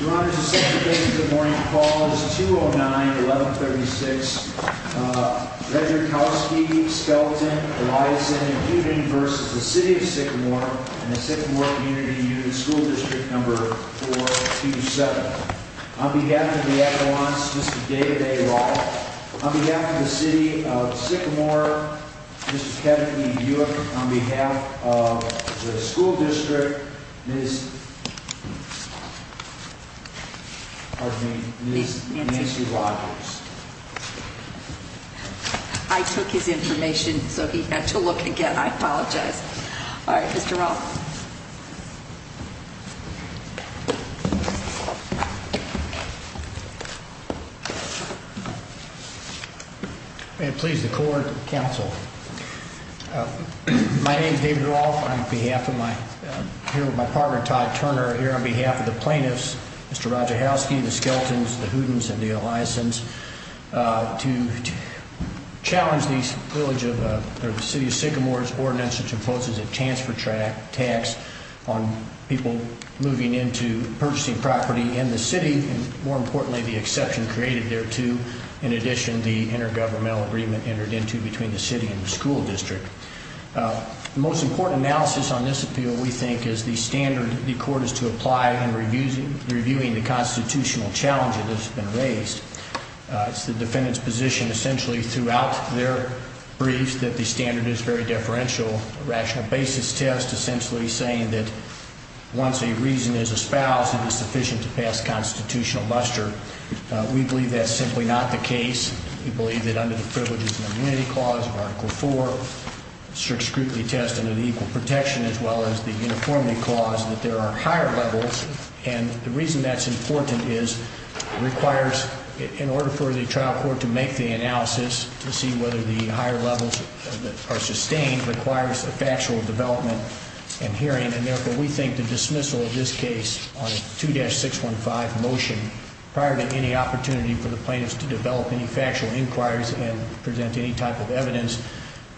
Your Honor, this is the second case of the morning. The call is 209-1136. Uh, Roger Kowalski, Skelton, Eliason, and Pugin v. City of Sycamore and the Sycamore Community Union School District No. 427. On behalf of the adjourns, Mr. David A. Wright. On behalf of the City of Sycamore, Mr. Kevin E. Yook. On behalf of the School District, Ms. Nancy Rogers. I took his information, so he had to look again. I apologize. May it please the court, counsel. My name is David Rolfe. I'm here on behalf of my partner, Todd Turner. Here on behalf of the plaintiffs, Mr. Roger Kowalski, the Skeltons, the Hootens, and the Eliasons. To challenge the City of Sycamore's ordinance which imposes a transfer tax on people moving into purchasing property in the city. More importantly, the exception created thereto. In addition, the intergovernmental agreement entered into between the city and the school district. The most important analysis on this appeal, we think, is the standard the court is to apply in reviewing the constitutional challenges that have been raised. It's the defendant's position essentially throughout their briefs that the standard is very deferential. A rational basis test essentially saying that once a reason is espoused, it is sufficient to pass constitutional muster. We believe that's simply not the case. We believe that under the privileges and immunity clause of Article 4, the strict scrutiny test under the equal protection as well as the uniformity clause, that there are higher levels. And the reason that's important is it requires, in order for the trial court to make the analysis, to see whether the higher levels are sustained, requires a factual development and hearing. And therefore, we think the dismissal of this case on 2-615 motion, prior to any opportunity for the plaintiffs to develop any factual inquiries and present any type of evidence,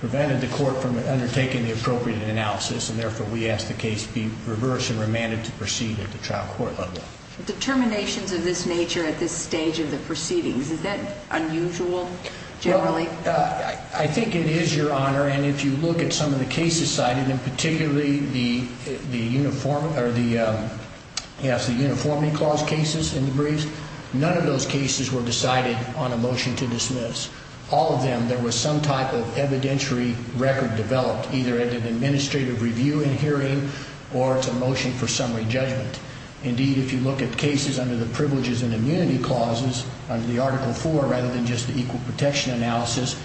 prevented the court from undertaking the appropriate analysis. And therefore, we ask the case be reversed and remanded to proceed at the trial court level. Determinations of this nature at this stage of the proceedings, is that unusual generally? Well, I think it is, Your Honor. And if you look at some of the cases cited, and particularly the uniformity clause cases in the briefs, none of those cases were decided on a motion to dismiss. All of them, there was some type of evidentiary record developed, either at an administrative review and hearing, or it's a motion for summary judgment. Indeed, if you look at cases under the privileges and immunity clauses, under the Article 4 rather than just the equal protection analysis,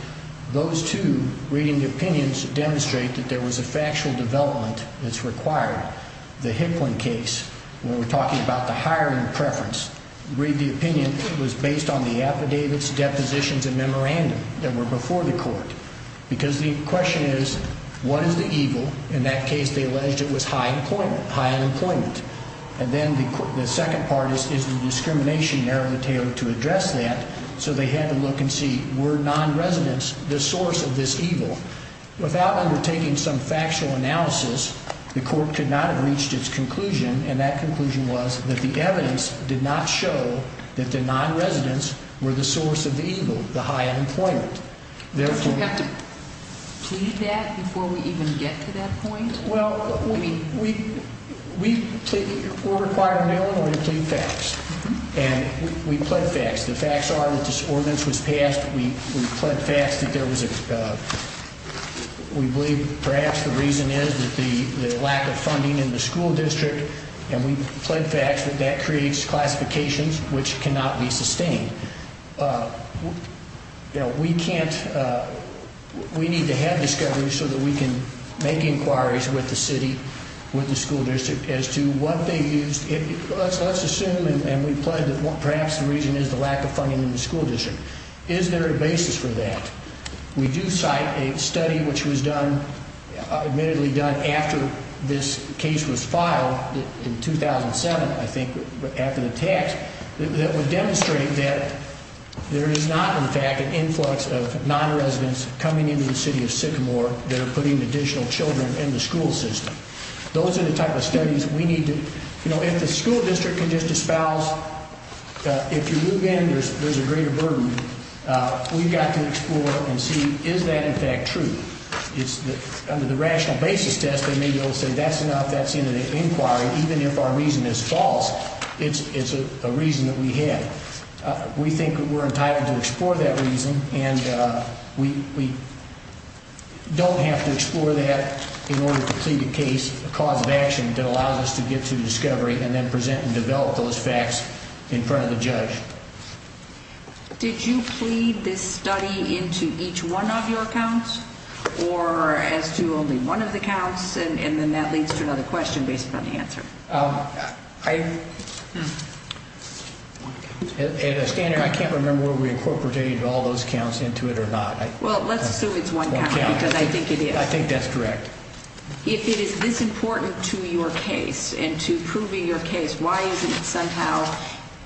those two reading opinions demonstrate that there was a factual development that's required. The Hicklin case, when we're talking about the hiring preference, read the opinion, it was based on the affidavits, depositions, and memorandum that were before the court. Because the question is, what is the evil? In that case, they alleged it was high employment, high unemployment. And then the second part is the discrimination narrowed the table to address that, so they had to look and see, were non-residents the source of this evil? Without undertaking some factual analysis, the court could not have reached its conclusion, and that conclusion was that the evidence did not show that the non-residents were the source of the evil, the high unemployment. Do we have to plead that before we even get to that point? Well, we're required now in order to plead facts, and we plead facts. The facts are that this ordinance was passed. We plead facts that we believe perhaps the reason is the lack of funding in the school district, and we plead facts that that creates classifications which cannot be sustained. We need to have discoveries so that we can make inquiries with the city, with the school district, as to what they used. Let's assume, and we plead that perhaps the reason is the lack of funding in the school district. Is there a basis for that? We do cite a study which was admittedly done after this case was filed in 2007, I think, after the tax, that would demonstrate that there is not, in fact, an influx of non-residents coming into the city of Sycamore that are putting additional children in the school system. Those are the type of studies we need to do. If the school district can just espouse, if you move in, there's a greater burden. We've got to explore and see is that, in fact, true. Under the rational basis test, they may be able to say that's enough, that's in an inquiry, even if our reason is false, it's a reason that we have. We think we're entitled to explore that reason, and we don't have to explore that in order to plead a case, a cause of action, that allows us to get to the discovery and then present and develop those facts in front of the judge. Did you plead this study into each one of your counts or as to only one of the counts? And then that leads to another question based upon the answer. At a standard, I can't remember whether we incorporated all those counts into it or not. Well, let's assume it's one count because I think it is. I think that's correct. If it is this important to your case and to proving your case, why isn't it somehow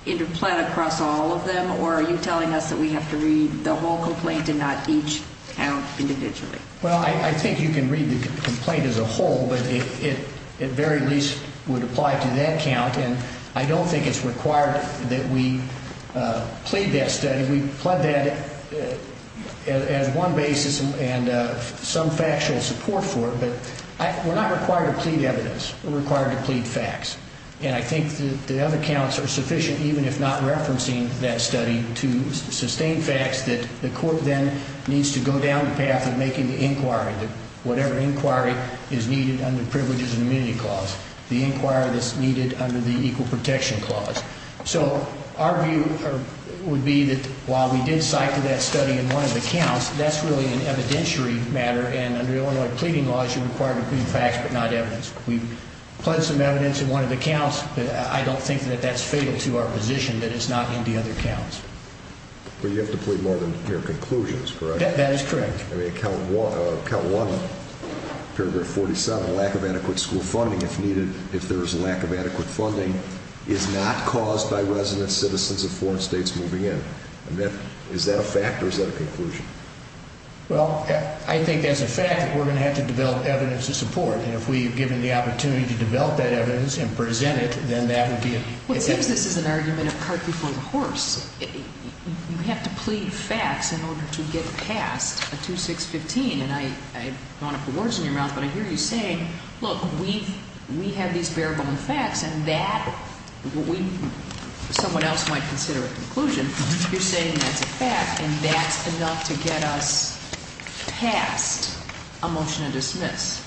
interplayed across all of them, or are you telling us that we have to read the whole complaint and not each count individually? Well, I think you can read the complaint as a whole, but it very least would apply to that count, and I don't think it's required that we plead that study. We plead that as one basis and some factual support for it, but we're not required to plead evidence. We're required to plead facts, and I think the other counts are sufficient even if not referencing that study to sustain facts that the court then needs to go down the path of making the inquiry, whatever inquiry is needed under privileges and immunity clause, the inquiry that's needed under the equal protection clause. So our view would be that while we did cite that study in one of the counts, that's really an evidentiary matter, and under Illinois pleading laws you're required to plead facts but not evidence. We pled some evidence in one of the counts, but I don't think that that's fatal to our position that it's not in the other counts. But you have to plead more than your conclusions, correct? That is correct. I mean, count one, paragraph 47, lack of adequate school funding if needed, if there is a lack of adequate funding, is not caused by resident citizens of foreign states moving in. Is that a fact or is that a conclusion? Well, I think as a fact that we're going to have to develop evidence to support, and if we've given the opportunity to develop that evidence and present it, then that would be a good thing. Well, since this is an argument of cart before the horse, you have to plead facts in order to get past a 2-6-15, and I don't want to put words in your mouth, but I hear you saying, look, we have these bare-bone facts, and that someone else might consider a conclusion. You're saying that's a fact, and that's enough to get us past a motion to dismiss.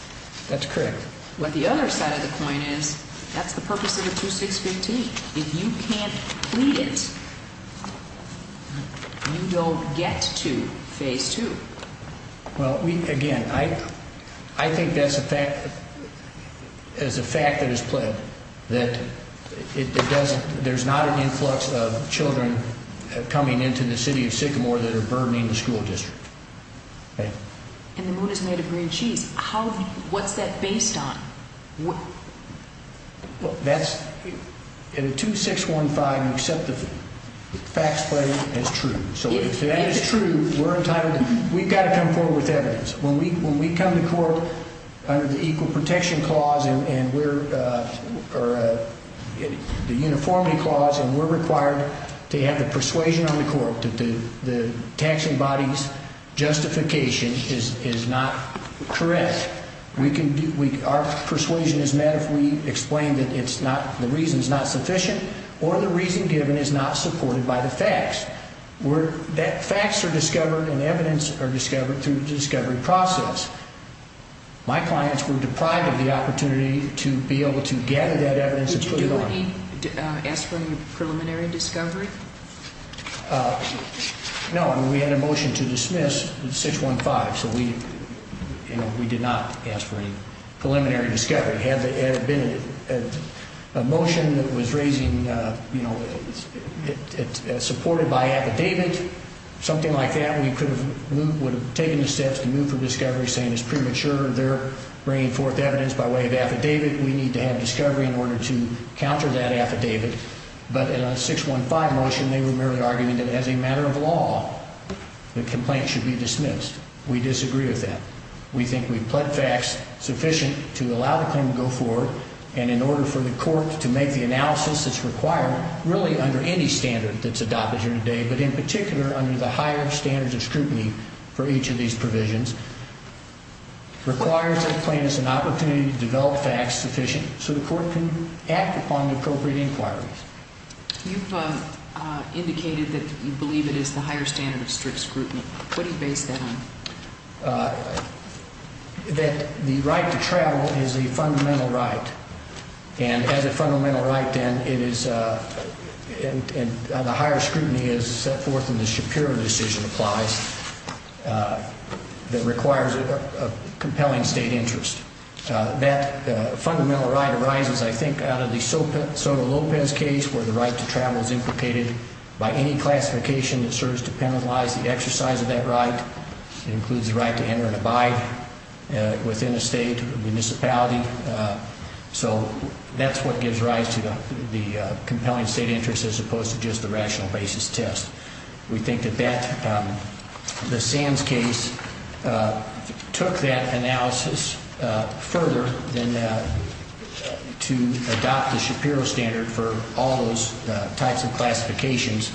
That's correct. But the other side of the coin is that's the purpose of the 2-6-15. If you can't plead it, you don't get to phase two. Well, again, I think that's a fact that is pled, that there's not an influx of children coming into the city of Sycamore that are burdening the school district. And the moon is made of green cheese. What's that based on? In a 2-6-15, you accept the facts pleading as true. So if that is true, we've got to come forward with evidence. When we come to court under the Equal Protection Clause and the Uniformity Clause, and we're required to have the persuasion on the court that the taxing body's justification is not correct, our persuasion is met if we explain that the reason is not sufficient or the reason given is not supported by the facts. Facts are discovered and evidence are discovered through the discovery process. My clients were deprived of the opportunity to be able to gather that evidence and put it on. Did you do any aspiring preliminary discovery? No, and we had a motion to dismiss 6-1-5, so we did not ask for any preliminary discovery. Had there been a motion that was supported by affidavit, something like that, we would have taken the steps to move for discovery, saying it's premature, they're bringing forth evidence by way of affidavit, we need to have discovery in order to counter that affidavit. But in a 6-1-5 motion, they were merely arguing that as a matter of law, the complaint should be dismissed. We disagree with that. We think we've pled facts sufficient to allow the claim to go forward, and in order for the court to make the analysis that's required, really under any standard that's adopted here today, but in particular under the higher standards of scrutiny for each of these provisions, requires the plaintiffs an opportunity to develop facts sufficient so the court can act upon the appropriate inquiries. You've indicated that you believe it is the higher standard of strict scrutiny. What do you base that on? That the right to travel is a fundamental right, and as a fundamental right, then, the higher scrutiny is set forth in the Shapiro decision applies that requires a compelling state interest. That fundamental right arises, I think, out of the Soto Lopez case where the right to travel is implicated by any classification that serves to penalize the exercise of that right. It includes the right to enter and abide within a state municipality. So that's what gives rise to the compelling state interest as opposed to just the rational basis test. We think that the Sands case took that analysis further than to adopt the Shapiro standard for all those types of classifications.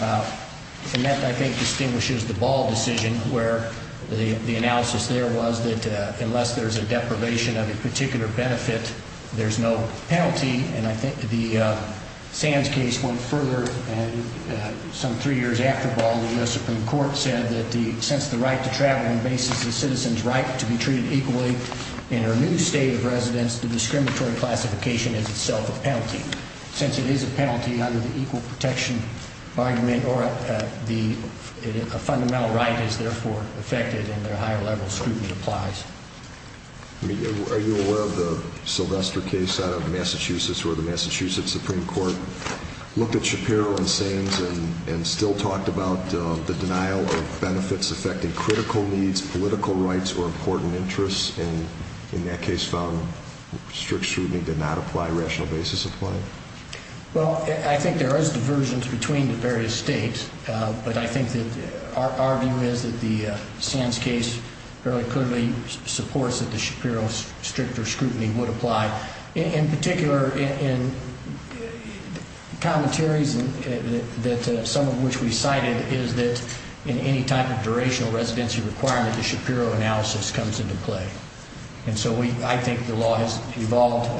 And that, I think, distinguishes the Ball decision where the analysis there was that unless there's a deprivation of a particular benefit, there's no penalty. And I think the Sands case went further some three years after Ball. The U.S. Supreme Court said that since the right to travel embases a citizen's right to be treated equally in a new state of residence, the discriminatory classification is itself a penalty. And since it is a penalty under the equal protection argument, a fundamental right is therefore affected and a higher level of scrutiny applies. Are you aware of the Sylvester case out of Massachusetts where the Massachusetts Supreme Court looked at Shapiro and Sands and still talked about the denial of benefits affecting critical needs, political rights, or important interests, and in that case found strict scrutiny did not apply, rational basis applied? Well, I think there is diversions between the various states, but I think that our view is that the Sands case fairly clearly supports that the Shapiro stricter scrutiny would apply. In particular, in commentaries, some of which we cited, is that in any type of durational residency requirement, the Shapiro analysis comes into play. And so I think the law has evolved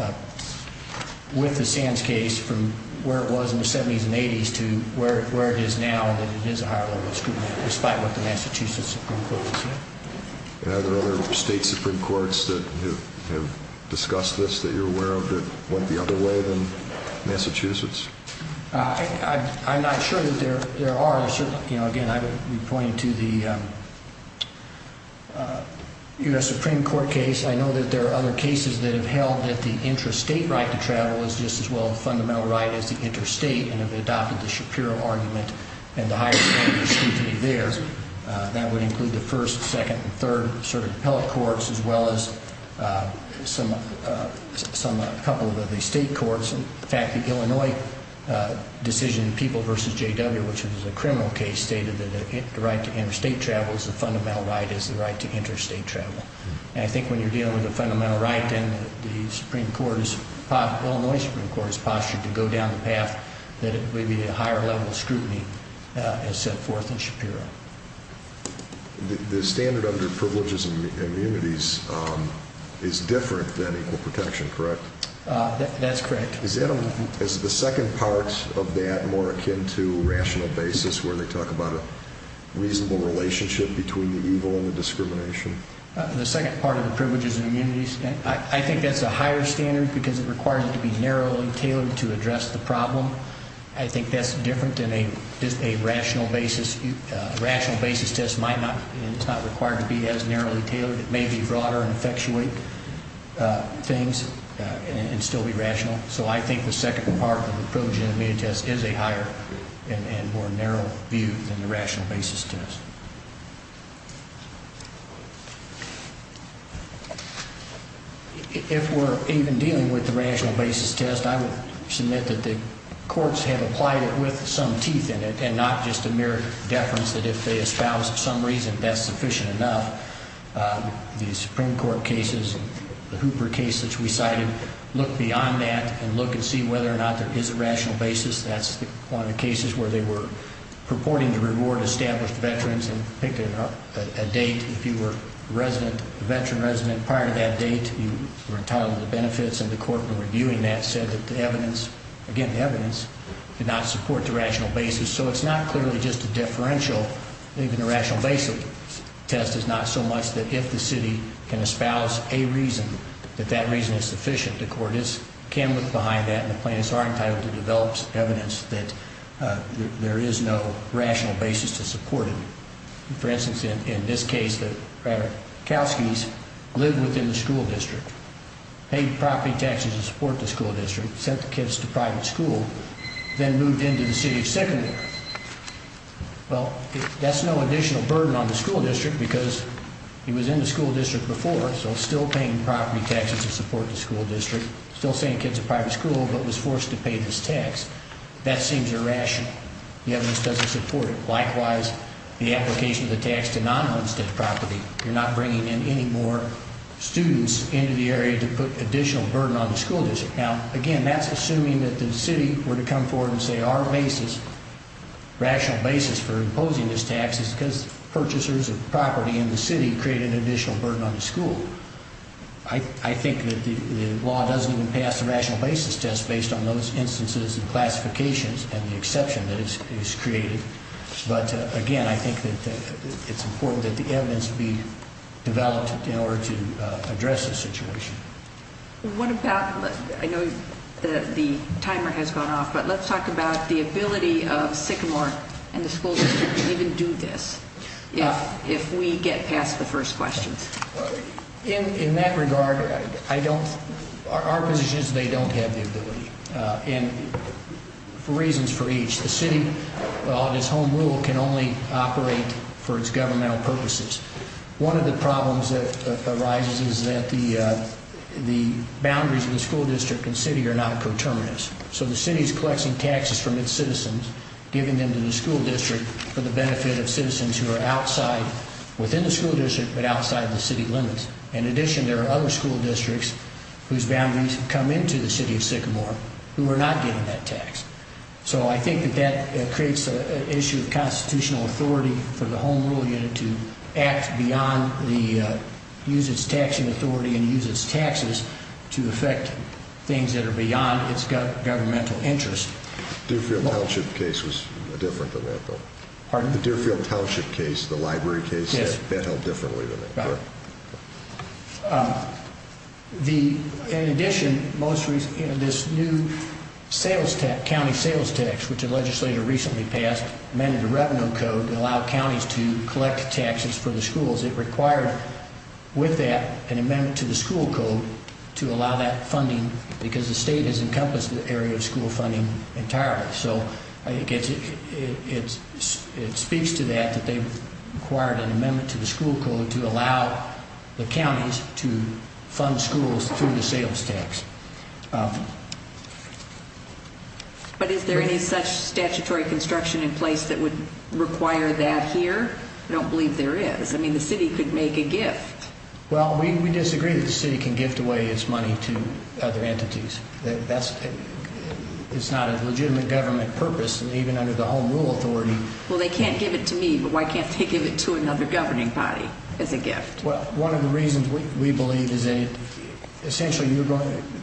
with the Sands case from where it was in the 70s and 80s to where it is now and that it is a higher level of scrutiny, despite what the Massachusetts Supreme Court has said. Are there other state Supreme Courts that have discussed this that you're aware of that went the other way than Massachusetts? I'm not sure that there are. Again, I would be pointing to the U.S. Supreme Court case. I know that there are other cases that have held that the interstate right to travel is just as well a fundamental right as the interstate and have adopted the Shapiro argument and the higher scrutiny there. That would include the first, second, and third sort of appellate courts as well as a couple of the state courts. In fact, the Illinois decision in People v. J.W., which was a criminal case, stated that the right to interstate travel is a fundamental right as the right to interstate travel. And I think when you're dealing with a fundamental right, then the Illinois Supreme Court is postured to go down the path that it would be a higher level of scrutiny as set forth in Shapiro. The standard under privileges and immunities is different than equal protection, correct? That's correct. Is the second part of that more akin to rational basis where they talk about a reasonable relationship between the evil and the discrimination? The second part of the privileges and immunities, I think that's a higher standard because it requires it to be narrowly tailored to address the problem. I think that's different than a rational basis. It may be broader and effectuate things and still be rational. So I think the second part of the privileges and immunities is a higher and more narrow view than the rational basis test. If we're even dealing with the rational basis test, I would submit that the courts have applied it with some teeth in it and not just a mere deference that if they espouse some reason, that's sufficient enough. The Supreme Court cases, the Hooper case that we cited, look beyond that and look and see whether or not there is a rational basis. That's one of the cases where they were purporting to reward established veterans and picked a date if you were a veteran resident. Prior to that date, you were entitled to the benefits, and the court when reviewing that said that the evidence, again, the evidence did not support the rational basis. So it's not clearly just a differential. Even the rational basis test is not so much that if the city can espouse a reason, that that reason is sufficient. The court can look behind that and the plaintiffs are entitled to develop evidence that there is no rational basis to support it. For instance, in this case, the Kalskys lived within the school district, paid property taxes to support the school district, sent the kids to private school, then moved into the city of secondary. Well, that's no additional burden on the school district because he was in the school district before, so still paying property taxes to support the school district, still sending kids to private school but was forced to pay this tax. That seems irrational. The evidence doesn't support it. Likewise, the application of the tax to non-homestead property, you're not bringing in any more students into the area to put additional burden on the school district. Now, again, that's assuming that the city were to come forward and say our rational basis for imposing this tax is because purchasers of property in the city create an additional burden on the school. I think that the law doesn't even pass the rational basis test based on those instances and classifications and the exception that is created. But, again, I think that it's important that the evidence be developed in order to address this situation. I know the timer has gone off, but let's talk about the ability of Sycamore and the school district to even do this if we get past the first questions. In that regard, our position is they don't have the ability and for reasons for each. The city, on its own rule, can only operate for its governmental purposes. One of the problems that arises is that the boundaries of the school district and city are not coterminous. So the city is collecting taxes from its citizens, giving them to the school district for the benefit of citizens who are outside, within the school district, but outside the city limits. In addition, there are other school districts whose boundaries come into the city of Sycamore who are not getting that tax. So I think that that creates an issue of constitutional authority for the Home Rule Unit to act beyond the use of its taxing authority and use its taxes to affect things that are beyond its governmental interest. The Deerfield Township case was different than that, though. Pardon? The Deerfield Township case, the library case, is held differently than that. Right. In addition, this new county sales tax, which the legislator recently passed, amended the revenue code to allow counties to collect taxes for the schools. It required, with that, an amendment to the school code to allow that funding because the state has encompassed the area of school funding entirely. So it speaks to that, that they've required an amendment to the school code to allow the counties to fund schools through the sales tax. But is there any such statutory construction in place that would require that here? I don't believe there is. I mean, the city could make a gift. Well, we disagree that the city can gift away its money to other entities. That's not a legitimate government purpose, and even under the Home Rule Authority. Well, they can't give it to me, but why can't they give it to another governing body as a gift? Well, one of the reasons we believe is essentially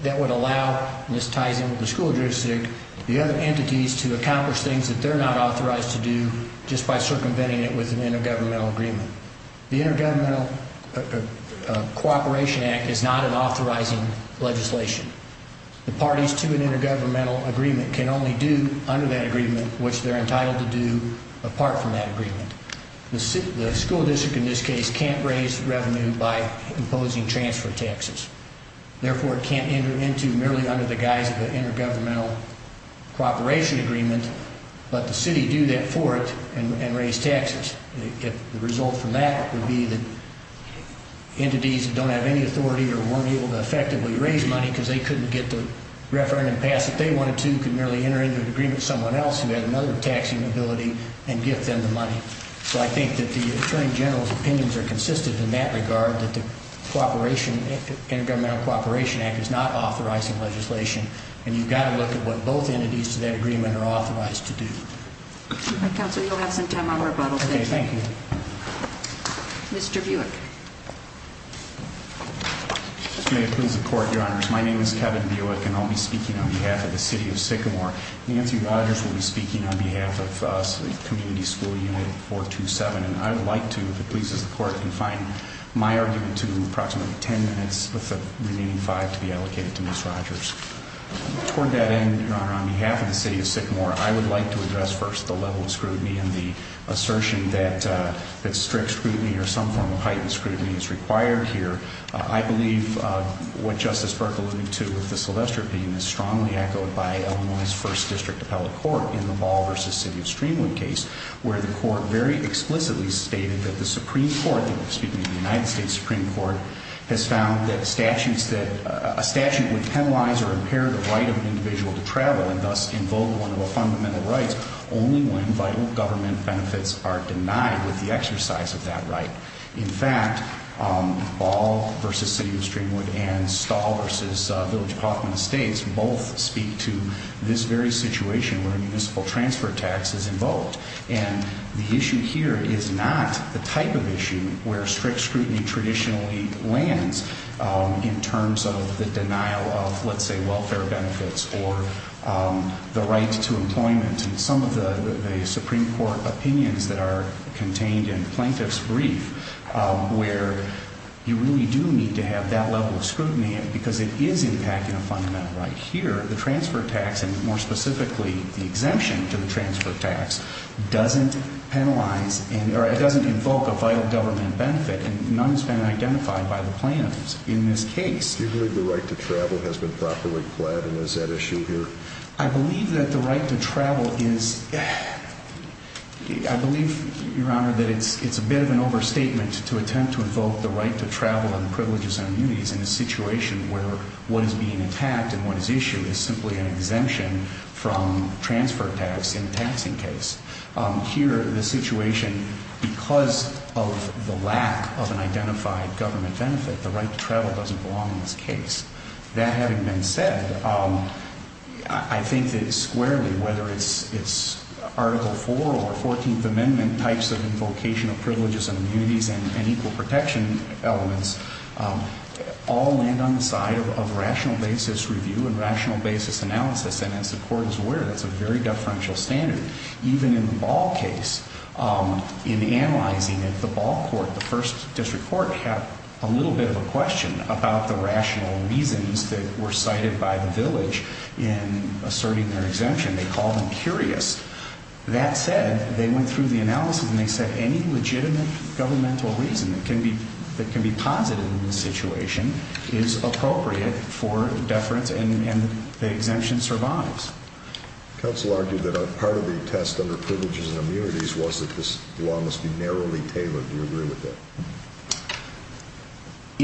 that would allow, Ms. Tyson, the school district, the other entities to accomplish things that they're not authorized to do just by circumventing it with an intergovernmental agreement. The Intergovernmental Cooperation Act is not an authorizing legislation. The parties to an intergovernmental agreement can only do under that agreement what they're entitled to do apart from that agreement. The school district in this case can't raise revenue by imposing transfer taxes. Therefore, it can't enter into merely under the guise of an intergovernmental cooperation agreement, but the city do that for it and raise taxes. The result from that would be that entities that don't have any authority or weren't able to effectively raise money because they couldn't get the referendum pass that they wanted to could merely enter into an agreement with someone else who had another taxing ability and gift them the money. So I think that the Attorney General's opinions are consistent in that regard that the Intergovernmental Cooperation Act is not authorizing legislation, and you've got to look at what both entities to that agreement are authorized to do. All right, Counselor, you'll have some time on rebuttal. Okay, thank you. Mr. Buick. May it please the Court, Your Honors. My name is Kevin Buick, and I'll be speaking on behalf of the city of Sycamore. Nancy Rogers will be speaking on behalf of Community School Unit 427, and I would like to, if it pleases the Court, confine my argument to approximately ten minutes with the remaining five to be allocated to Ms. Rogers. Toward that end, Your Honor, on behalf of the city of Sycamore, I would like to address first the level of scrutiny and the assertion that strict scrutiny or some form of heightened scrutiny is required here. I believe what Justice Buick alluded to with the Sylvester pain is strongly echoed by Illinois' First District Appellate Court in the Ball v. City of Streamwood case, where the Court very explicitly stated that the Supreme Court, excuse me, the United States Supreme Court, has found that a statute would penalize or impair the right of an individual to travel and thus invoke one of the fundamental rights only when vital government benefits are denied with the exercise of that right. In fact, Ball v. City of Streamwood and Stahl v. Village of Hoffman Estates both speak to this very situation where a municipal transfer tax is invoked. And the issue here is not the type of issue where strict scrutiny traditionally lands in terms of the denial of, let's say, welfare benefits or the right to employment. And some of the Supreme Court opinions that are contained in Plaintiff's Brief where you really do need to have that level of scrutiny because it is impacting a fundamental right here. The transfer tax, and more specifically the exemption to the transfer tax, doesn't penalize or it doesn't invoke a vital government benefit, and none has been identified by the plaintiffs in this case. Do you believe the right to travel has been properly pled and is at issue here? I believe that the right to travel is... I believe, Your Honor, that it's a bit of an overstatement to attempt to invoke the right to travel and privileges and immunities in a situation where what is being attacked and what is issued is simply an exemption from transfer tax in a taxing case. Here, the situation, because of the lack of an identified government benefit, the right to travel doesn't belong in this case. That having been said, I think that squarely, whether it's Article IV or 14th Amendment types of invocation of privileges and immunities and equal protection elements, all land on the side of rational basis review and rational basis analysis. And as the Court is aware, that's a very deferential standard. Even in the Ball case, in analyzing it, the Ball court, the first district court, had a little bit of a question about the rational reasons that were cited by the village in asserting their exemption. They called them curious. That said, they went through the analysis, and they said any legitimate governmental reason that can be posited in this situation is appropriate for deference, and the exemption survives. Counsel argued that part of the test under privileges and immunities was that this law must be narrowly tailored. Do you agree with that?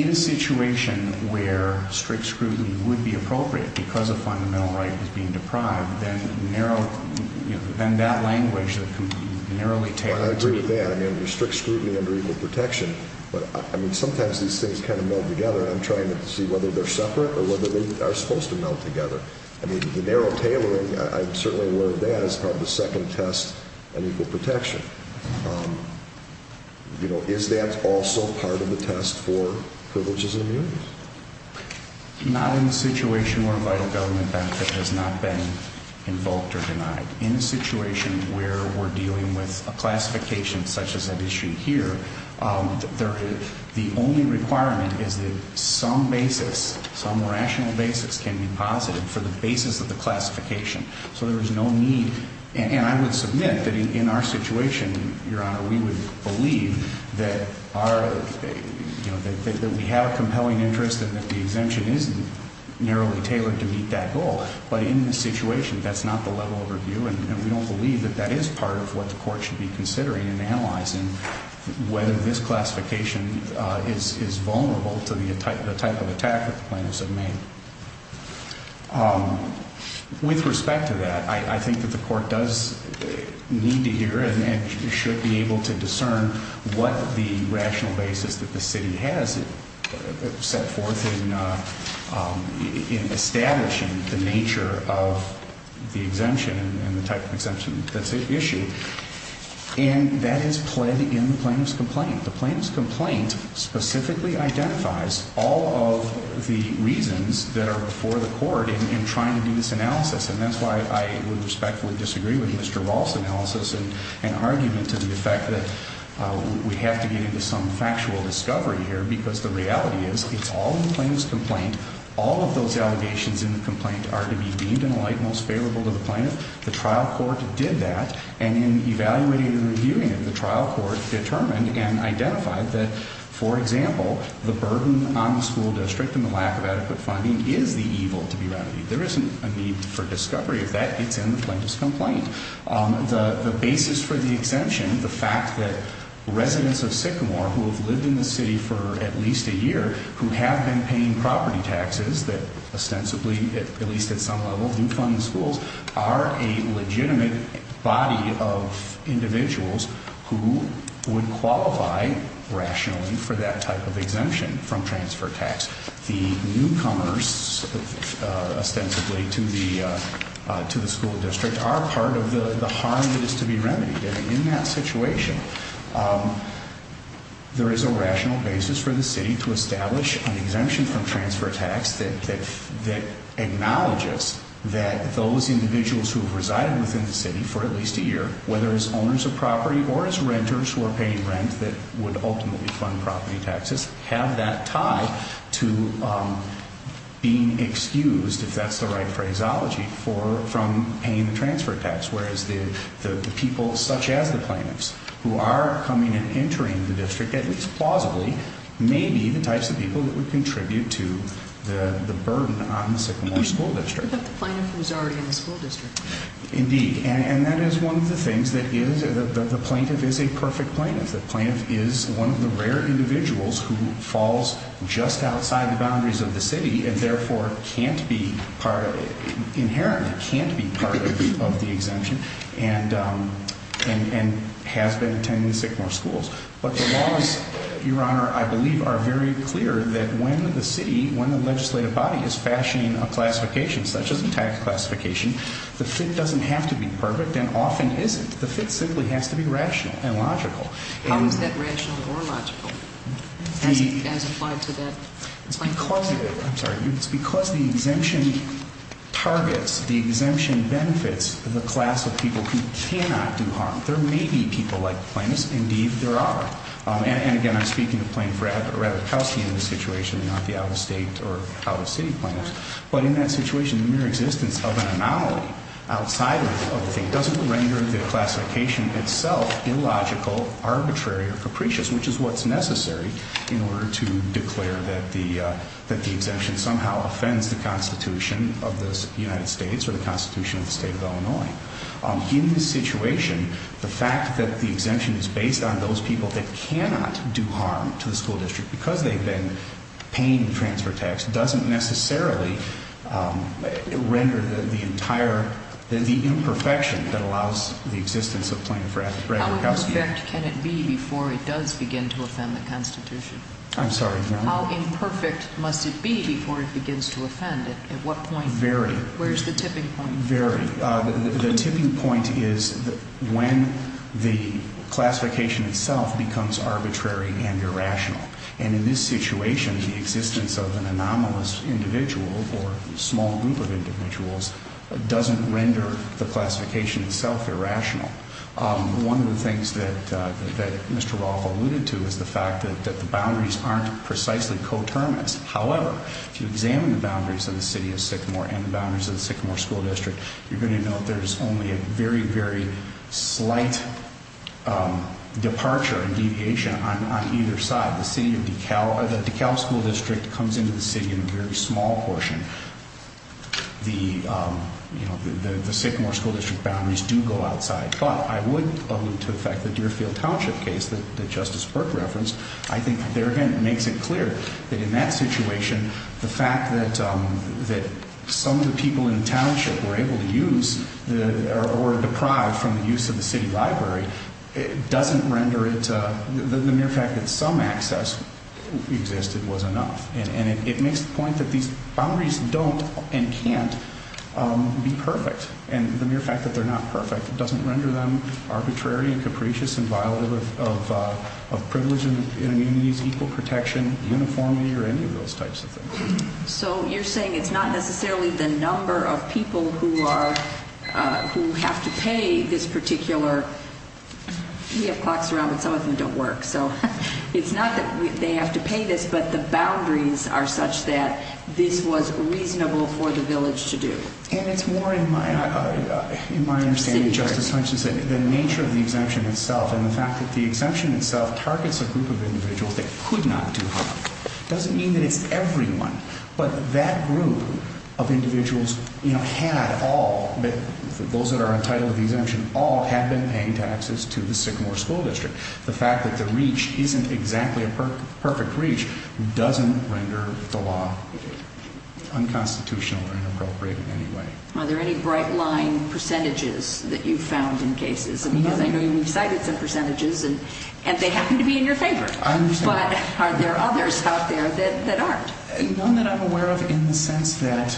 In a situation where strict scrutiny would be appropriate because a fundamental right was being deprived, then that language that can be narrowly tailored... I agree with that. I mean, there's strict scrutiny under equal protection, but, I mean, sometimes these things kind of meld together, and I'm trying to see whether they're separate or whether they are supposed to meld together. I mean, the narrow tailoring, I'm certainly aware of that, is part of the second test on equal protection. You know, is that also part of the test for privileges and immunities? Not in a situation where a vital government benefit has not been invoked or denied. In a situation where we're dealing with a classification such as that issued here, the only requirement is that some basis, some rational basis, can be posited for the basis of the classification. So there is no need, and I would submit that in our situation, Your Honor, we would believe that we have a compelling interest and that the exemption is narrowly tailored to meet that goal. But in this situation, that's not the level of review, and we don't believe that that is part of what the court should be considering in analyzing whether this classification is vulnerable to the type of attack that the plaintiffs have made. With respect to that, I think that the court does need to hear and should be able to discern what the rational basis that the city has set forth in establishing the nature of the exemption and the type of exemption that's issued. And that is pled in the plaintiff's complaint. The plaintiff's complaint specifically identifies all of the reasons that are before the court in trying to do this analysis. And that's why I would respectfully disagree with Mr. Rolf's analysis and argument to the effect that we have to get into some factual discovery here because the reality is it's all in the plaintiff's complaint. All of those allegations in the complaint are to be deemed in a light most favorable to the plaintiff. The trial court did that. And in evaluating and reviewing it, the trial court determined and identified that, for example, the burden on the school district and the lack of adequate funding is the evil to be remedied. There isn't a need for discovery of that. It's in the plaintiff's complaint. The basis for the exemption, the fact that residents of Sycamore, who have lived in the city for at least a year, who have been paying property taxes that ostensibly, at least at some level, do fund the schools, are a legitimate body of individuals who would qualify rationally for that type of exemption from transfer tax. The newcomers ostensibly to the school district are part of the harm that is to be remedied. And in that situation, there is a rational basis for the city to establish an exemption from transfer tax that acknowledges that those individuals who have resided within the city for at least a year, whether as owners of property or as renters who are paying rent that would ultimately fund property taxes, have that tie to being excused, if that's the right phraseology, from paying the transfer tax. Whereas the people such as the plaintiffs who are coming and entering the district, at least plausibly, may be the types of people that would contribute to the burden on the Sycamore School District. What about the plaintiff who's already in the school district? Indeed. And that is one of the things that the plaintiff is a perfect plaintiff. The plaintiff is one of the rare individuals who falls just outside the boundaries of the city and therefore inherently can't be part of the exemption and has been attending the Sycamore schools. But the laws, Your Honor, I believe are very clear that when the city, when the legislative body is fashioning a classification such as a tax classification, the fit doesn't have to be perfect and often isn't. The fit simply has to be rational and logical. How is that rational or logical as applied to that plaintiff? It's because the exemption targets, the exemption benefits the class of people who cannot do harm. There may be people like plaintiffs. Indeed, there are. And again, I'm speaking of Plaintiff Ravitkowsky in this situation, not the out-of-state or out-of-city plaintiffs. But in that situation, the mere existence of an anomaly outside of the fit doesn't render the classification itself illogical, arbitrary, or capricious, which is what's necessary in order to declare that the exemption somehow offends the Constitution of the United States or the Constitution of the State of Illinois. In this situation, the fact that the exemption is based on those people that cannot do harm to the school district because they've been paying the transfer tax doesn't necessarily render the entire, the imperfection that allows the existence of Plaintiff Ravitkowsky. How imperfect can it be before it does begin to offend the Constitution? I'm sorry, Your Honor? How imperfect must it be before it begins to offend it? At what point? Very. Where's the tipping point? Very. The tipping point is when the classification itself becomes arbitrary and irrational. And in this situation, the existence of an anomalous individual or small group of individuals doesn't render the classification itself irrational. One of the things that Mr. Roth alluded to is the fact that the boundaries aren't precisely coterminous. However, if you examine the boundaries of the city of Sycamore and the boundaries of the Sycamore School District, you're going to note there's only a very, very slight departure and deviation on either side. The city of DeKalb, the DeKalb School District comes into the city in a very small portion. The, you know, the Sycamore School District boundaries do go outside. But I would allude to the fact that the Deerfield Township case that Justice Burke referenced, I think there again makes it clear that in that situation, the fact that some of the people in the township were able to use or deprived from the use of the city library doesn't render it, the mere fact that some access existed was enough. And it makes the point that these boundaries don't and can't be perfect. And the mere fact that they're not perfect doesn't render them arbitrary and capricious and violent of privilege and equal protection uniformly or any of those types of things. So you're saying it's not necessarily the number of people who are who have to pay this particular. We have clocks around, but some of them don't work. So it's not that they have to pay this, but the boundaries are such that this was reasonable for the village to do. And it's more in my understanding, Justice Hutchinson, the nature of the exemption itself and the fact that the exemption itself targets a group of individuals that could not do harm. It doesn't mean that it's everyone. But that group of individuals, you know, had all, those that are entitled to the exemption, all had been paying taxes to the Sycamore School District. The fact that the reach isn't exactly a perfect reach doesn't render the law unconstitutional or inappropriate in any way. Are there any bright line percentages that you've found in cases? Because I know you've cited some percentages, and they happen to be in your favor. I understand. But are there others out there that aren't? None that I'm aware of in the sense that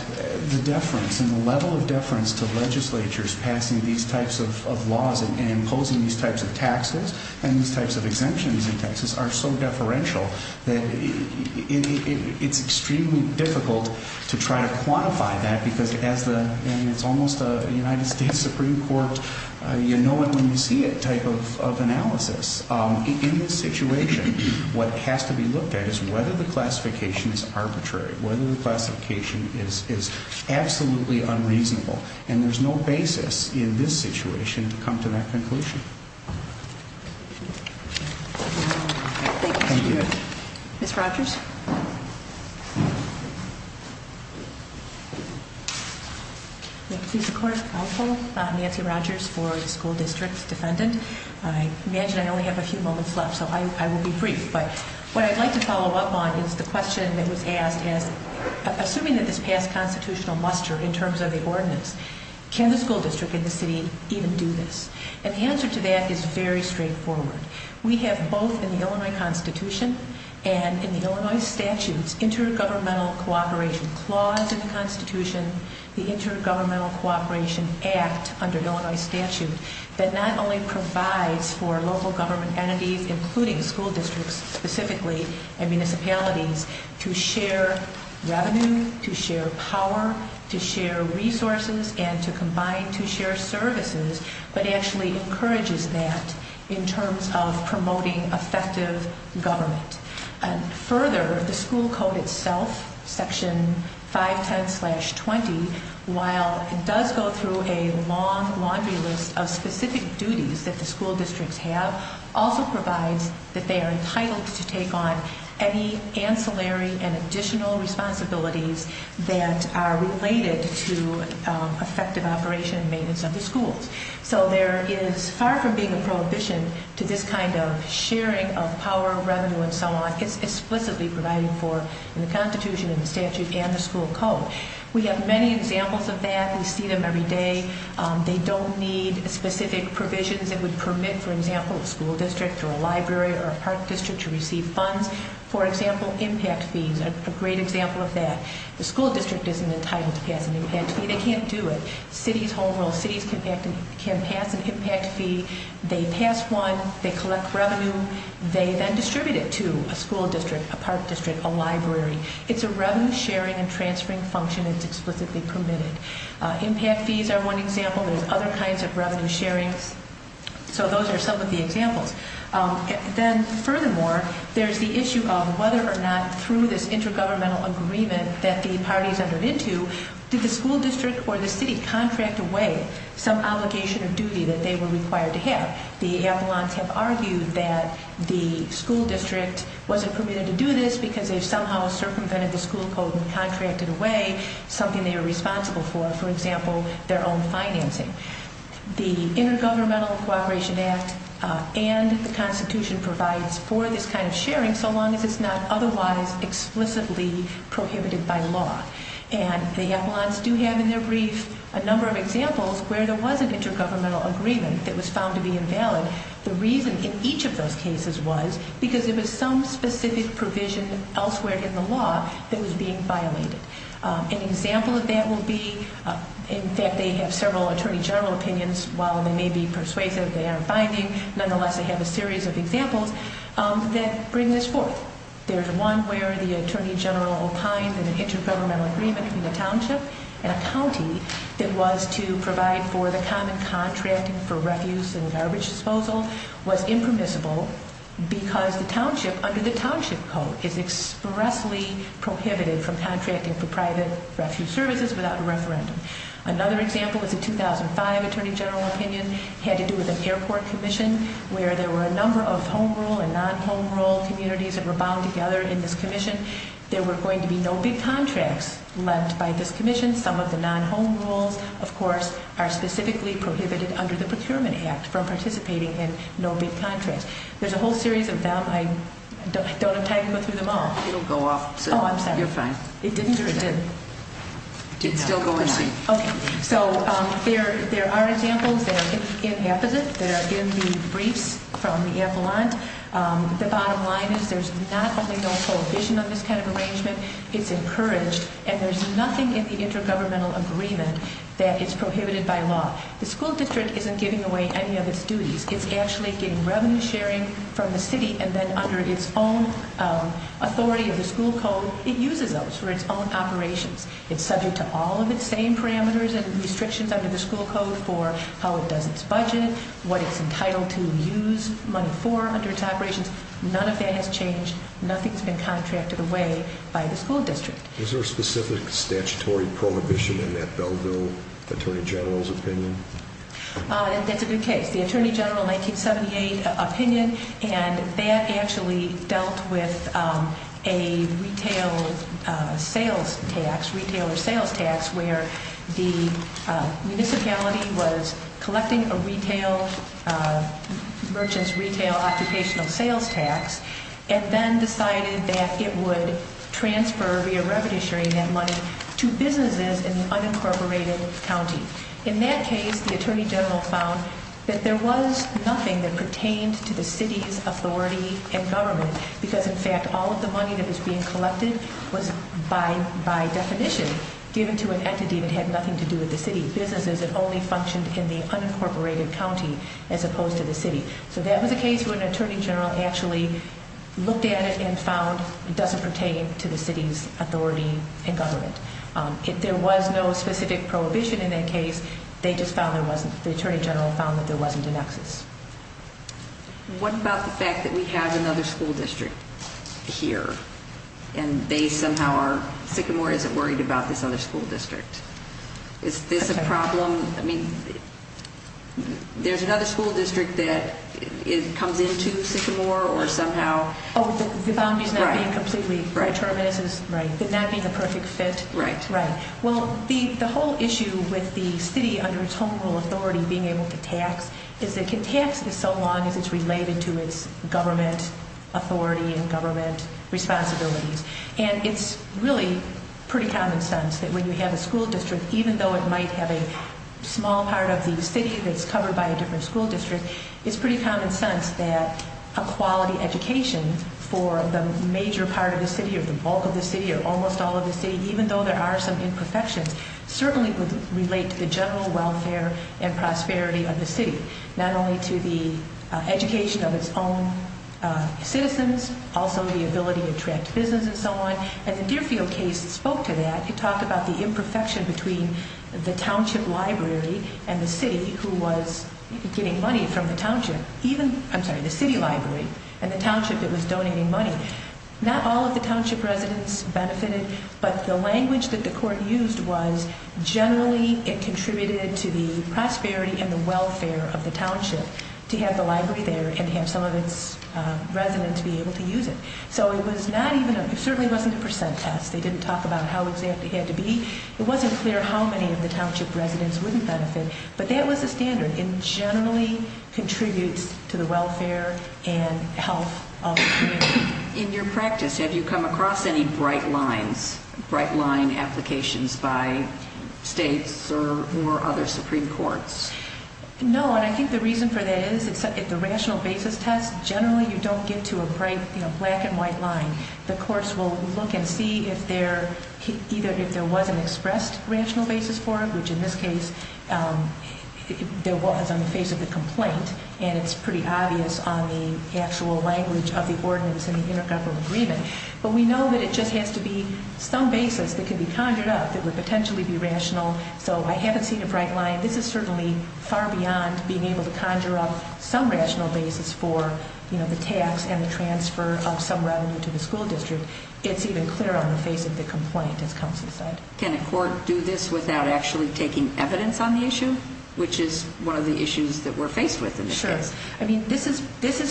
the deference and the level of deference to legislatures passing these types of laws and imposing these types of taxes and these types of exemptions and taxes are so deferential that it's extremely difficult to try to quantify that. Because as the, I mean, it's almost a United States Supreme Court, you know it when you see it type of analysis. In this situation, what has to be looked at is whether the classification is arbitrary, whether the classification is absolutely unreasonable. And there's no basis in this situation to come to that conclusion. Thank you. Ms. Rogers? Thank you, Mr. Court. I'm Nancy Rogers for the School District Defendant. I imagine I only have a few moments left, so I will be brief. But what I'd like to follow up on is the question that was asked as, assuming that this passed constitutional muster in terms of the ordinance, can the school district in the city even do this? And the answer to that is very straightforward. We have both in the Illinois Constitution and in the Illinois statutes intergovernmental cooperation. Clause in the Constitution, the Intergovernmental Cooperation Act under Illinois statute that not only provides for local government entities, including school districts specifically, and municipalities, to share revenue, to share power, to share resources, and to combine, to share services. But actually encourages that in terms of promoting effective government. So there is far from being a prohibition to this kind of sharing of power, revenue, and so on. It's explicitly provided for in the Constitution and the statute and the school code. We have many examples of that. We see them every day. They don't need specific provisions that would permit, for example, a school district or a library or a park district to receive funds. For example, impact fees are a great example of that. The school district isn't entitled to pass an impact fee. They can't do it. Cities, whole world cities, can pass an impact fee. They pass one. They collect revenue. They then distribute it to a school district, a park district, a library. It's a revenue sharing and transferring function. It's explicitly permitted. Impact fees are one example. There's other kinds of revenue sharing. So those are some of the examples. Then, furthermore, there's the issue of whether or not, through this intergovernmental agreement that the parties entered into, did the school district or the city contract away some obligation of duty that they were required to have. The appellants have argued that the school district wasn't permitted to do this because they somehow circumvented the school code and contracted away something they were responsible for, for example, their own financing. The Intergovernmental Cooperation Act and the Constitution provides for this kind of sharing so long as it's not otherwise explicitly prohibited by law. And the appellants do have in their brief a number of examples where there was an intergovernmental agreement that was found to be invalid. The reason in each of those cases was because there was some specific provision elsewhere in the law that was being violated. An example of that will be, in fact, they have several attorney general opinions. While they may be persuasive, they aren't binding. Nonetheless, they have a series of examples that bring this forth. There's one where the attorney general opined that an intergovernmental agreement between a township and a county that was to provide for the common contracting for refuse and garbage disposal was impermissible because the township under the township code is expressly prohibited from contracting for private refuse services without a referendum. Another example is a 2005 attorney general opinion. It had to do with an airport commission where there were a number of home rule and non-home rule communities that were bound together in this commission. There were going to be no big contracts left by this commission. Some of the non-home rules, of course, are specifically prohibited under the Procurement Act from participating in no big contracts. There's a whole series of them. I don't have time to go through them all. It'll go off soon. Oh, I'm sorry. You're fine. It didn't or it did? It's still going soon. Okay. So there are examples that are inapposite that are in the briefs from the Avalon. The bottom line is there's not only no prohibition on this kind of arrangement, it's encouraged, and there's nothing in the intergovernmental agreement that is prohibited by law. The school district isn't giving away any of its duties. It's actually getting revenue sharing from the city, and then under its own authority of the school code, it uses those for its own operations. It's subject to all of its same parameters and restrictions under the school code for how it does its budget, what it's entitled to use money for under its operations. None of that has changed. Nothing's been contracted away by the school district. Is there a specific statutory prohibition in that Belleville attorney general's opinion? That's a good case. The attorney general in 1978 opinion, and that actually dealt with a retail sales tax, retailer sales tax where the municipality was collecting a retail, merchant's retail occupational sales tax, and then decided that it would transfer via revenue sharing that money to businesses in the unincorporated county. In that case, the attorney general found that there was nothing that pertained to the city's authority and government because, in fact, all of the money that was being collected was, by definition, given to an entity that had nothing to do with the city businesses that only functioned in the unincorporated county as opposed to the city. So that was a case where an attorney general actually looked at it and found it doesn't pertain to the city's authority and government. If there was no specific prohibition in that case, they just found there wasn't. The attorney general found that there wasn't an excess. What about the fact that we have another school district here, and they somehow are sick and more isn't worried about this other school district? Is this a problem? I mean, there's another school district that comes into sick and more or somehow. Oh, the boundary's not being completely determined. Right. It's not being a perfect fit. Right. Right. Well, the whole issue with the city under its home rule authority being able to tax is it can tax this so long as it's related to its government authority and government responsibilities. And it's really pretty common sense that when you have a school district, even though it might have a small part of the city that's covered by a different school district, it's pretty common sense that a quality education for the major part of the city or the bulk of the city or almost all of the city, even though there are some imperfections, certainly would relate to the general welfare and prosperity of the city, not only to the education of its own citizens, also the ability to attract business and so on. And the Deerfield case spoke to that. It talked about the imperfection between the township library and the city who was getting money from the township. Even, I'm sorry, the city library and the township that was donating money. Not all of the township residents benefited, but the language that the court used was generally it contributed to the prosperity and the welfare of the township to have the library there and have some of its residents be able to use it. So it was not even, it certainly wasn't a percent test. They didn't talk about how exact it had to be. It wasn't clear how many of the township residents wouldn't benefit, but that was the standard. In your practice, have you come across any bright lines, bright line applications by states or other Supreme Courts? No, and I think the reason for that is if the rational basis test, generally you don't get to a bright black and white line. The courts will look and see if there, either if there was an expressed rational basis for it, which in this case there was on the face of the complaint, and it's pretty obvious on the actual language of the ordinance and the intergovernmental agreement. But we know that it just has to be some basis that could be conjured up that would potentially be rational. So I haven't seen a bright line. This is certainly far beyond being able to conjure up some rational basis for, you know, the tax and the transfer of some revenue to the school district. It's even clearer on the face of the complaint, as counsel said. Can a court do this without actually taking evidence on the issue, which is one of the issues that we're faced with in this case? Sure. I mean, this is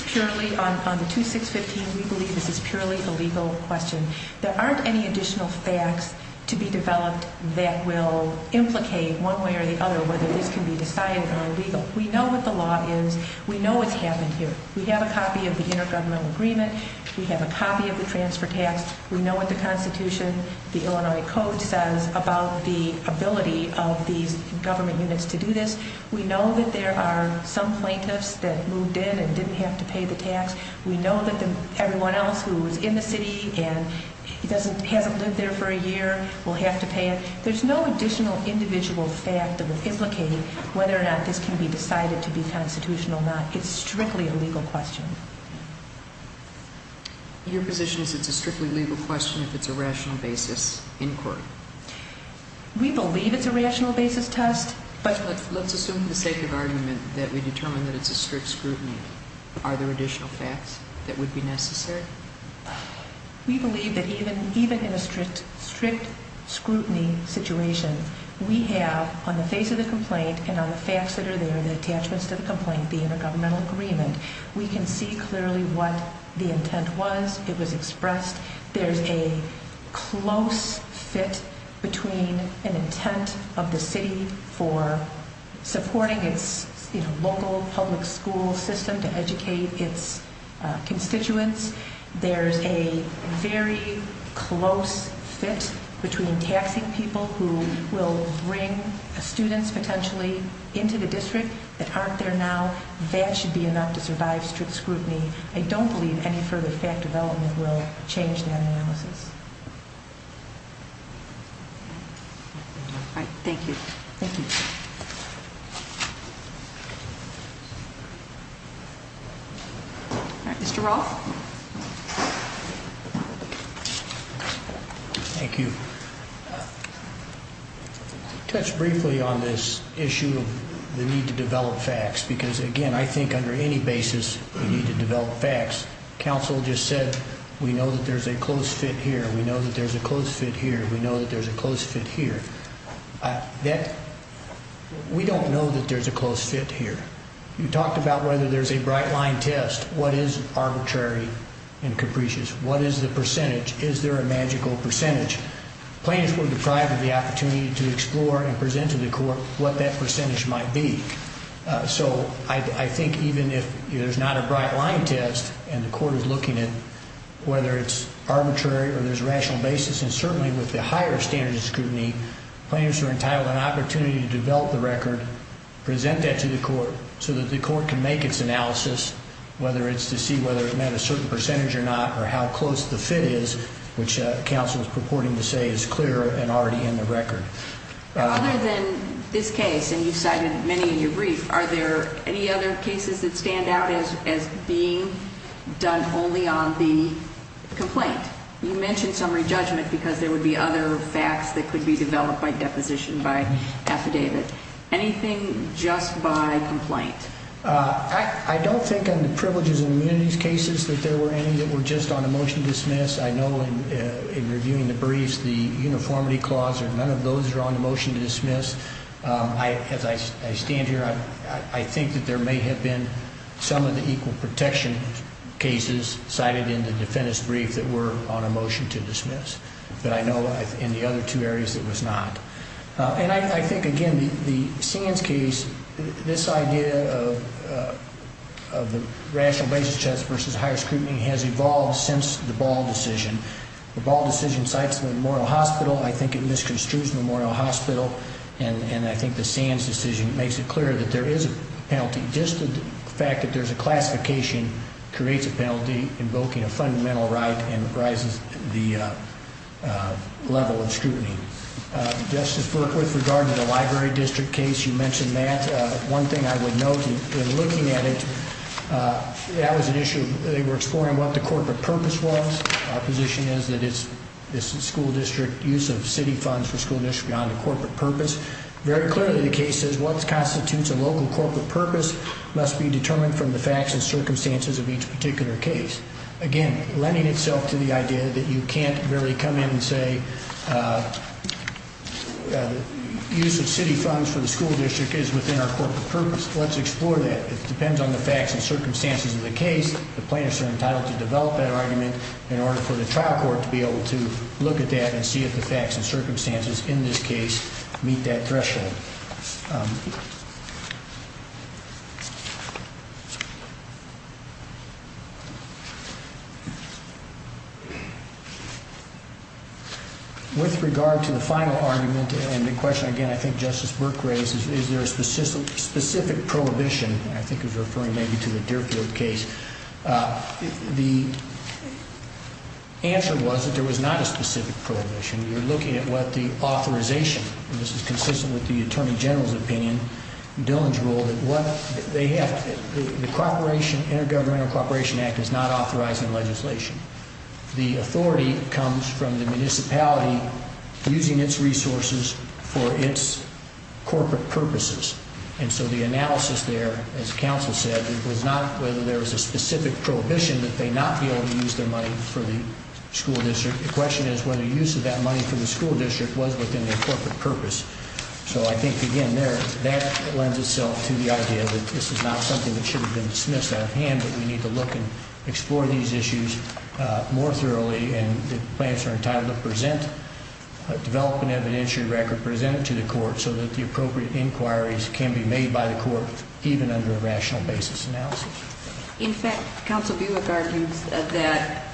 purely, on the 2615, we believe this is purely a legal question. There aren't any additional facts to be developed that will implicate one way or the other whether this can be decided or illegal. We know what the law is. We know what's happened here. We have a copy of the intergovernmental agreement. We have a copy of the transfer tax. We know what the Constitution, the Illinois Code says about the ability of these government units to do this. We know that there are some plaintiffs that moved in and didn't have to pay the tax. We know that everyone else who was in the city and hasn't lived there for a year will have to pay it. There's no additional individual fact that will implicate whether or not this can be decided to be constitutional or not. It's strictly a legal question. Your position is it's a strictly legal question if it's a rational basis inquiry? We believe it's a rational basis test, but— Let's assume for the sake of argument that we determine that it's a strict scrutiny. Are there additional facts that would be necessary? We believe that even in a strict scrutiny situation, we have, on the face of the complaint and on the facts that are there, the attachments to the complaint, the intergovernmental agreement, we can see clearly what the intent was. It was expressed. There's a close fit between an intent of the city for supporting its local public school system to educate its constituents. There's a very close fit between taxing people who will bring students potentially into the district that aren't there now. That should be enough to survive strict scrutiny. I don't believe any further fact development will change that analysis. All right. Thank you. Thank you. Thank you. All right. Mr. Roth? Thank you. I'll touch briefly on this issue of the need to develop facts because, again, I think under any basis we need to develop facts. Counsel just said we know that there's a close fit here, we know that there's a close fit here, we know that there's a close fit here. We don't know that there's a close fit here. You talked about whether there's a bright line test. What is arbitrary and capricious? What is the percentage? Is there a magical percentage? Plaintiffs were deprived of the opportunity to explore and present to the court what that percentage might be. So I think even if there's not a bright line test and the court is looking at whether it's arbitrary or there's rational basis, and certainly with the higher standard of scrutiny, plaintiffs are entitled to an opportunity to develop the record, present that to the court so that the court can make its analysis, whether it's to see whether it met a certain percentage or not or how close the fit is, which counsel is purporting to say is clear and already in the record. Other than this case, and you cited many in your brief, are there any other cases that stand out as being done only on the complaint? You mentioned summary judgment because there would be other facts that could be developed by deposition, by affidavit. Anything just by complaint? I don't think on the privileges and immunities cases that there were any that were just on a motion to dismiss. I know in reviewing the briefs, the uniformity clause or none of those are on the motion to dismiss. As I stand here, I think that there may have been some of the equal protection cases cited in the defendant's brief that were on a motion to dismiss, but I know in the other two areas it was not. And I think, again, the Sands case, this idea of the rational basis test versus higher scrutiny has evolved since the Ball decision. The Ball decision cites Memorial Hospital. I think it misconstrues Memorial Hospital, and I think the Sands decision makes it clear that there is a penalty. Just the fact that there's a classification creates a penalty invoking a fundamental right and rises the level of scrutiny. Justice Berkworth, regarding the library district case, you mentioned that. One thing I would note in looking at it, that was an issue. They were exploring what the corporate purpose was. Our position is that it's the school district use of city funds for school district beyond the corporate purpose. Very clearly the case says what constitutes a local corporate purpose must be determined from the facts and circumstances of each particular case. Again, lending itself to the idea that you can't really come in and say use of city funds for the school district is within our corporate purpose. Let's explore that. It depends on the facts and circumstances of the case. The plaintiffs are entitled to develop that argument in order for the trial court to be able to look at that and see if the facts and circumstances in this case meet that threshold. With regard to the final argument and the question, again, I think Justice Berkworth raises, is there a specific prohibition? I think it was referring maybe to the Deerfield case. The answer was that there was not a specific prohibition. You're looking at what the authorization, and this is consistent with the Attorney General's opinion, and Dillon's rule, that the Intergovernmental Cooperation Act is not authorizing legislation. The authority comes from the municipality using its resources for its corporate purposes. And so the analysis there, as counsel said, was not whether there was a specific prohibition that they not be able to use their money for the school district. The question is whether use of that money for the school district was within their corporate purpose. So I think, again, there, that lends itself to the idea that this is not something that should have been dismissed out of hand, that we need to look and explore these issues more thoroughly. And the plaintiffs are entitled to present, develop an evidentiary record, present it to the court so that the appropriate inquiries can be made by the court, even under a rational basis analysis. In fact, Counsel Buick argued that,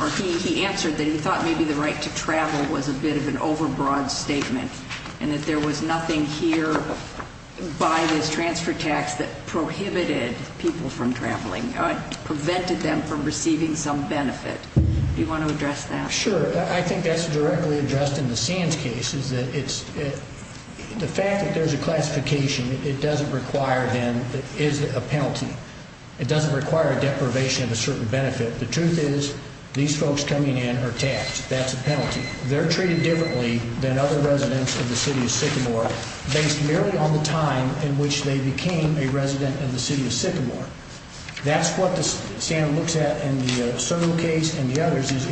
or he answered that he thought maybe the right to travel was a bit of an overbroad statement, and that there was nothing here by this transfer tax that prohibited people from traveling, prevented them from receiving some benefit. Do you want to address that? Sure. I think that's directly addressed in the Sands case, is that the fact that there's a classification, it doesn't require then, is it a penalty. It doesn't require a deprivation of a certain benefit. The truth is, these folks coming in are taxed. That's a penalty. They're treated differently than other residents of the city of Sycamore, based merely on the time in which they became a resident of the city of Sycamore. That's what the Sand looks at in the Soto case and the others, is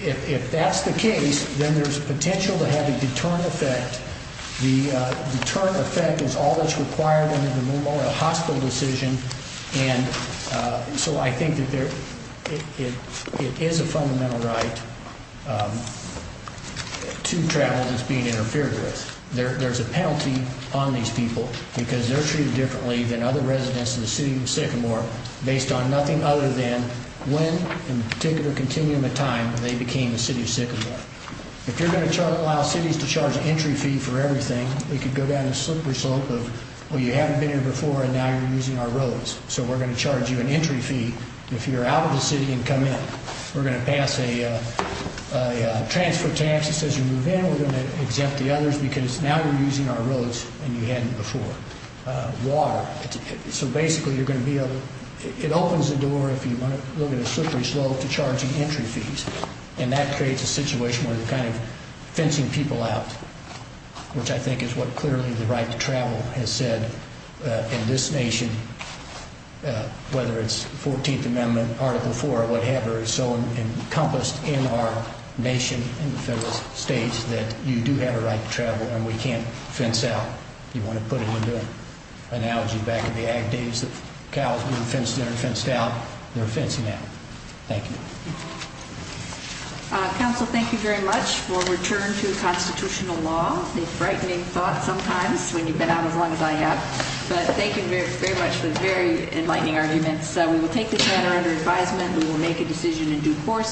if that's the case, then there's potential to have a deterrent effect. The deterrent effect is all that's required under the Memorial Hospital decision. And so I think that it is a fundamental right to travel that's being interfered with. There's a penalty on these people, because they're treated differently than other residents of the city of Sycamore, based on nothing other than when, in particular continuum of time, they became a city of Sycamore. If you're going to allow cities to charge an entry fee for everything, it could go down a slippery slope of, well, you haven't been here before, and now you're using our roads, so we're going to charge you an entry fee. If you're out of the city and come in, we're going to pass a transfer tax that says you move in. I think we're going to exempt the others, because now you're using our roads and you hadn't before. Water. So basically you're going to be able – it opens the door, if you want to look at a slippery slope, to charging entry fees. And that creates a situation where you're kind of fencing people out, which I think is what clearly the right to travel has said in this nation, whether it's the 14th Amendment, Article 4, or whatever, is so encompassed in our nation, in the federal states, that you do have a right to travel, and we can't fence out. You want to put it into an analogy back in the ag days that cows being fenced in or fenced out? They're fencing out. Thank you. Council, thank you very much for returning to constitutional law. It's a frightening thought sometimes when you've been out as long as I have. But thank you very much for the very enlightening arguments. We will take this matter under advisement, and we will make a decision in due course.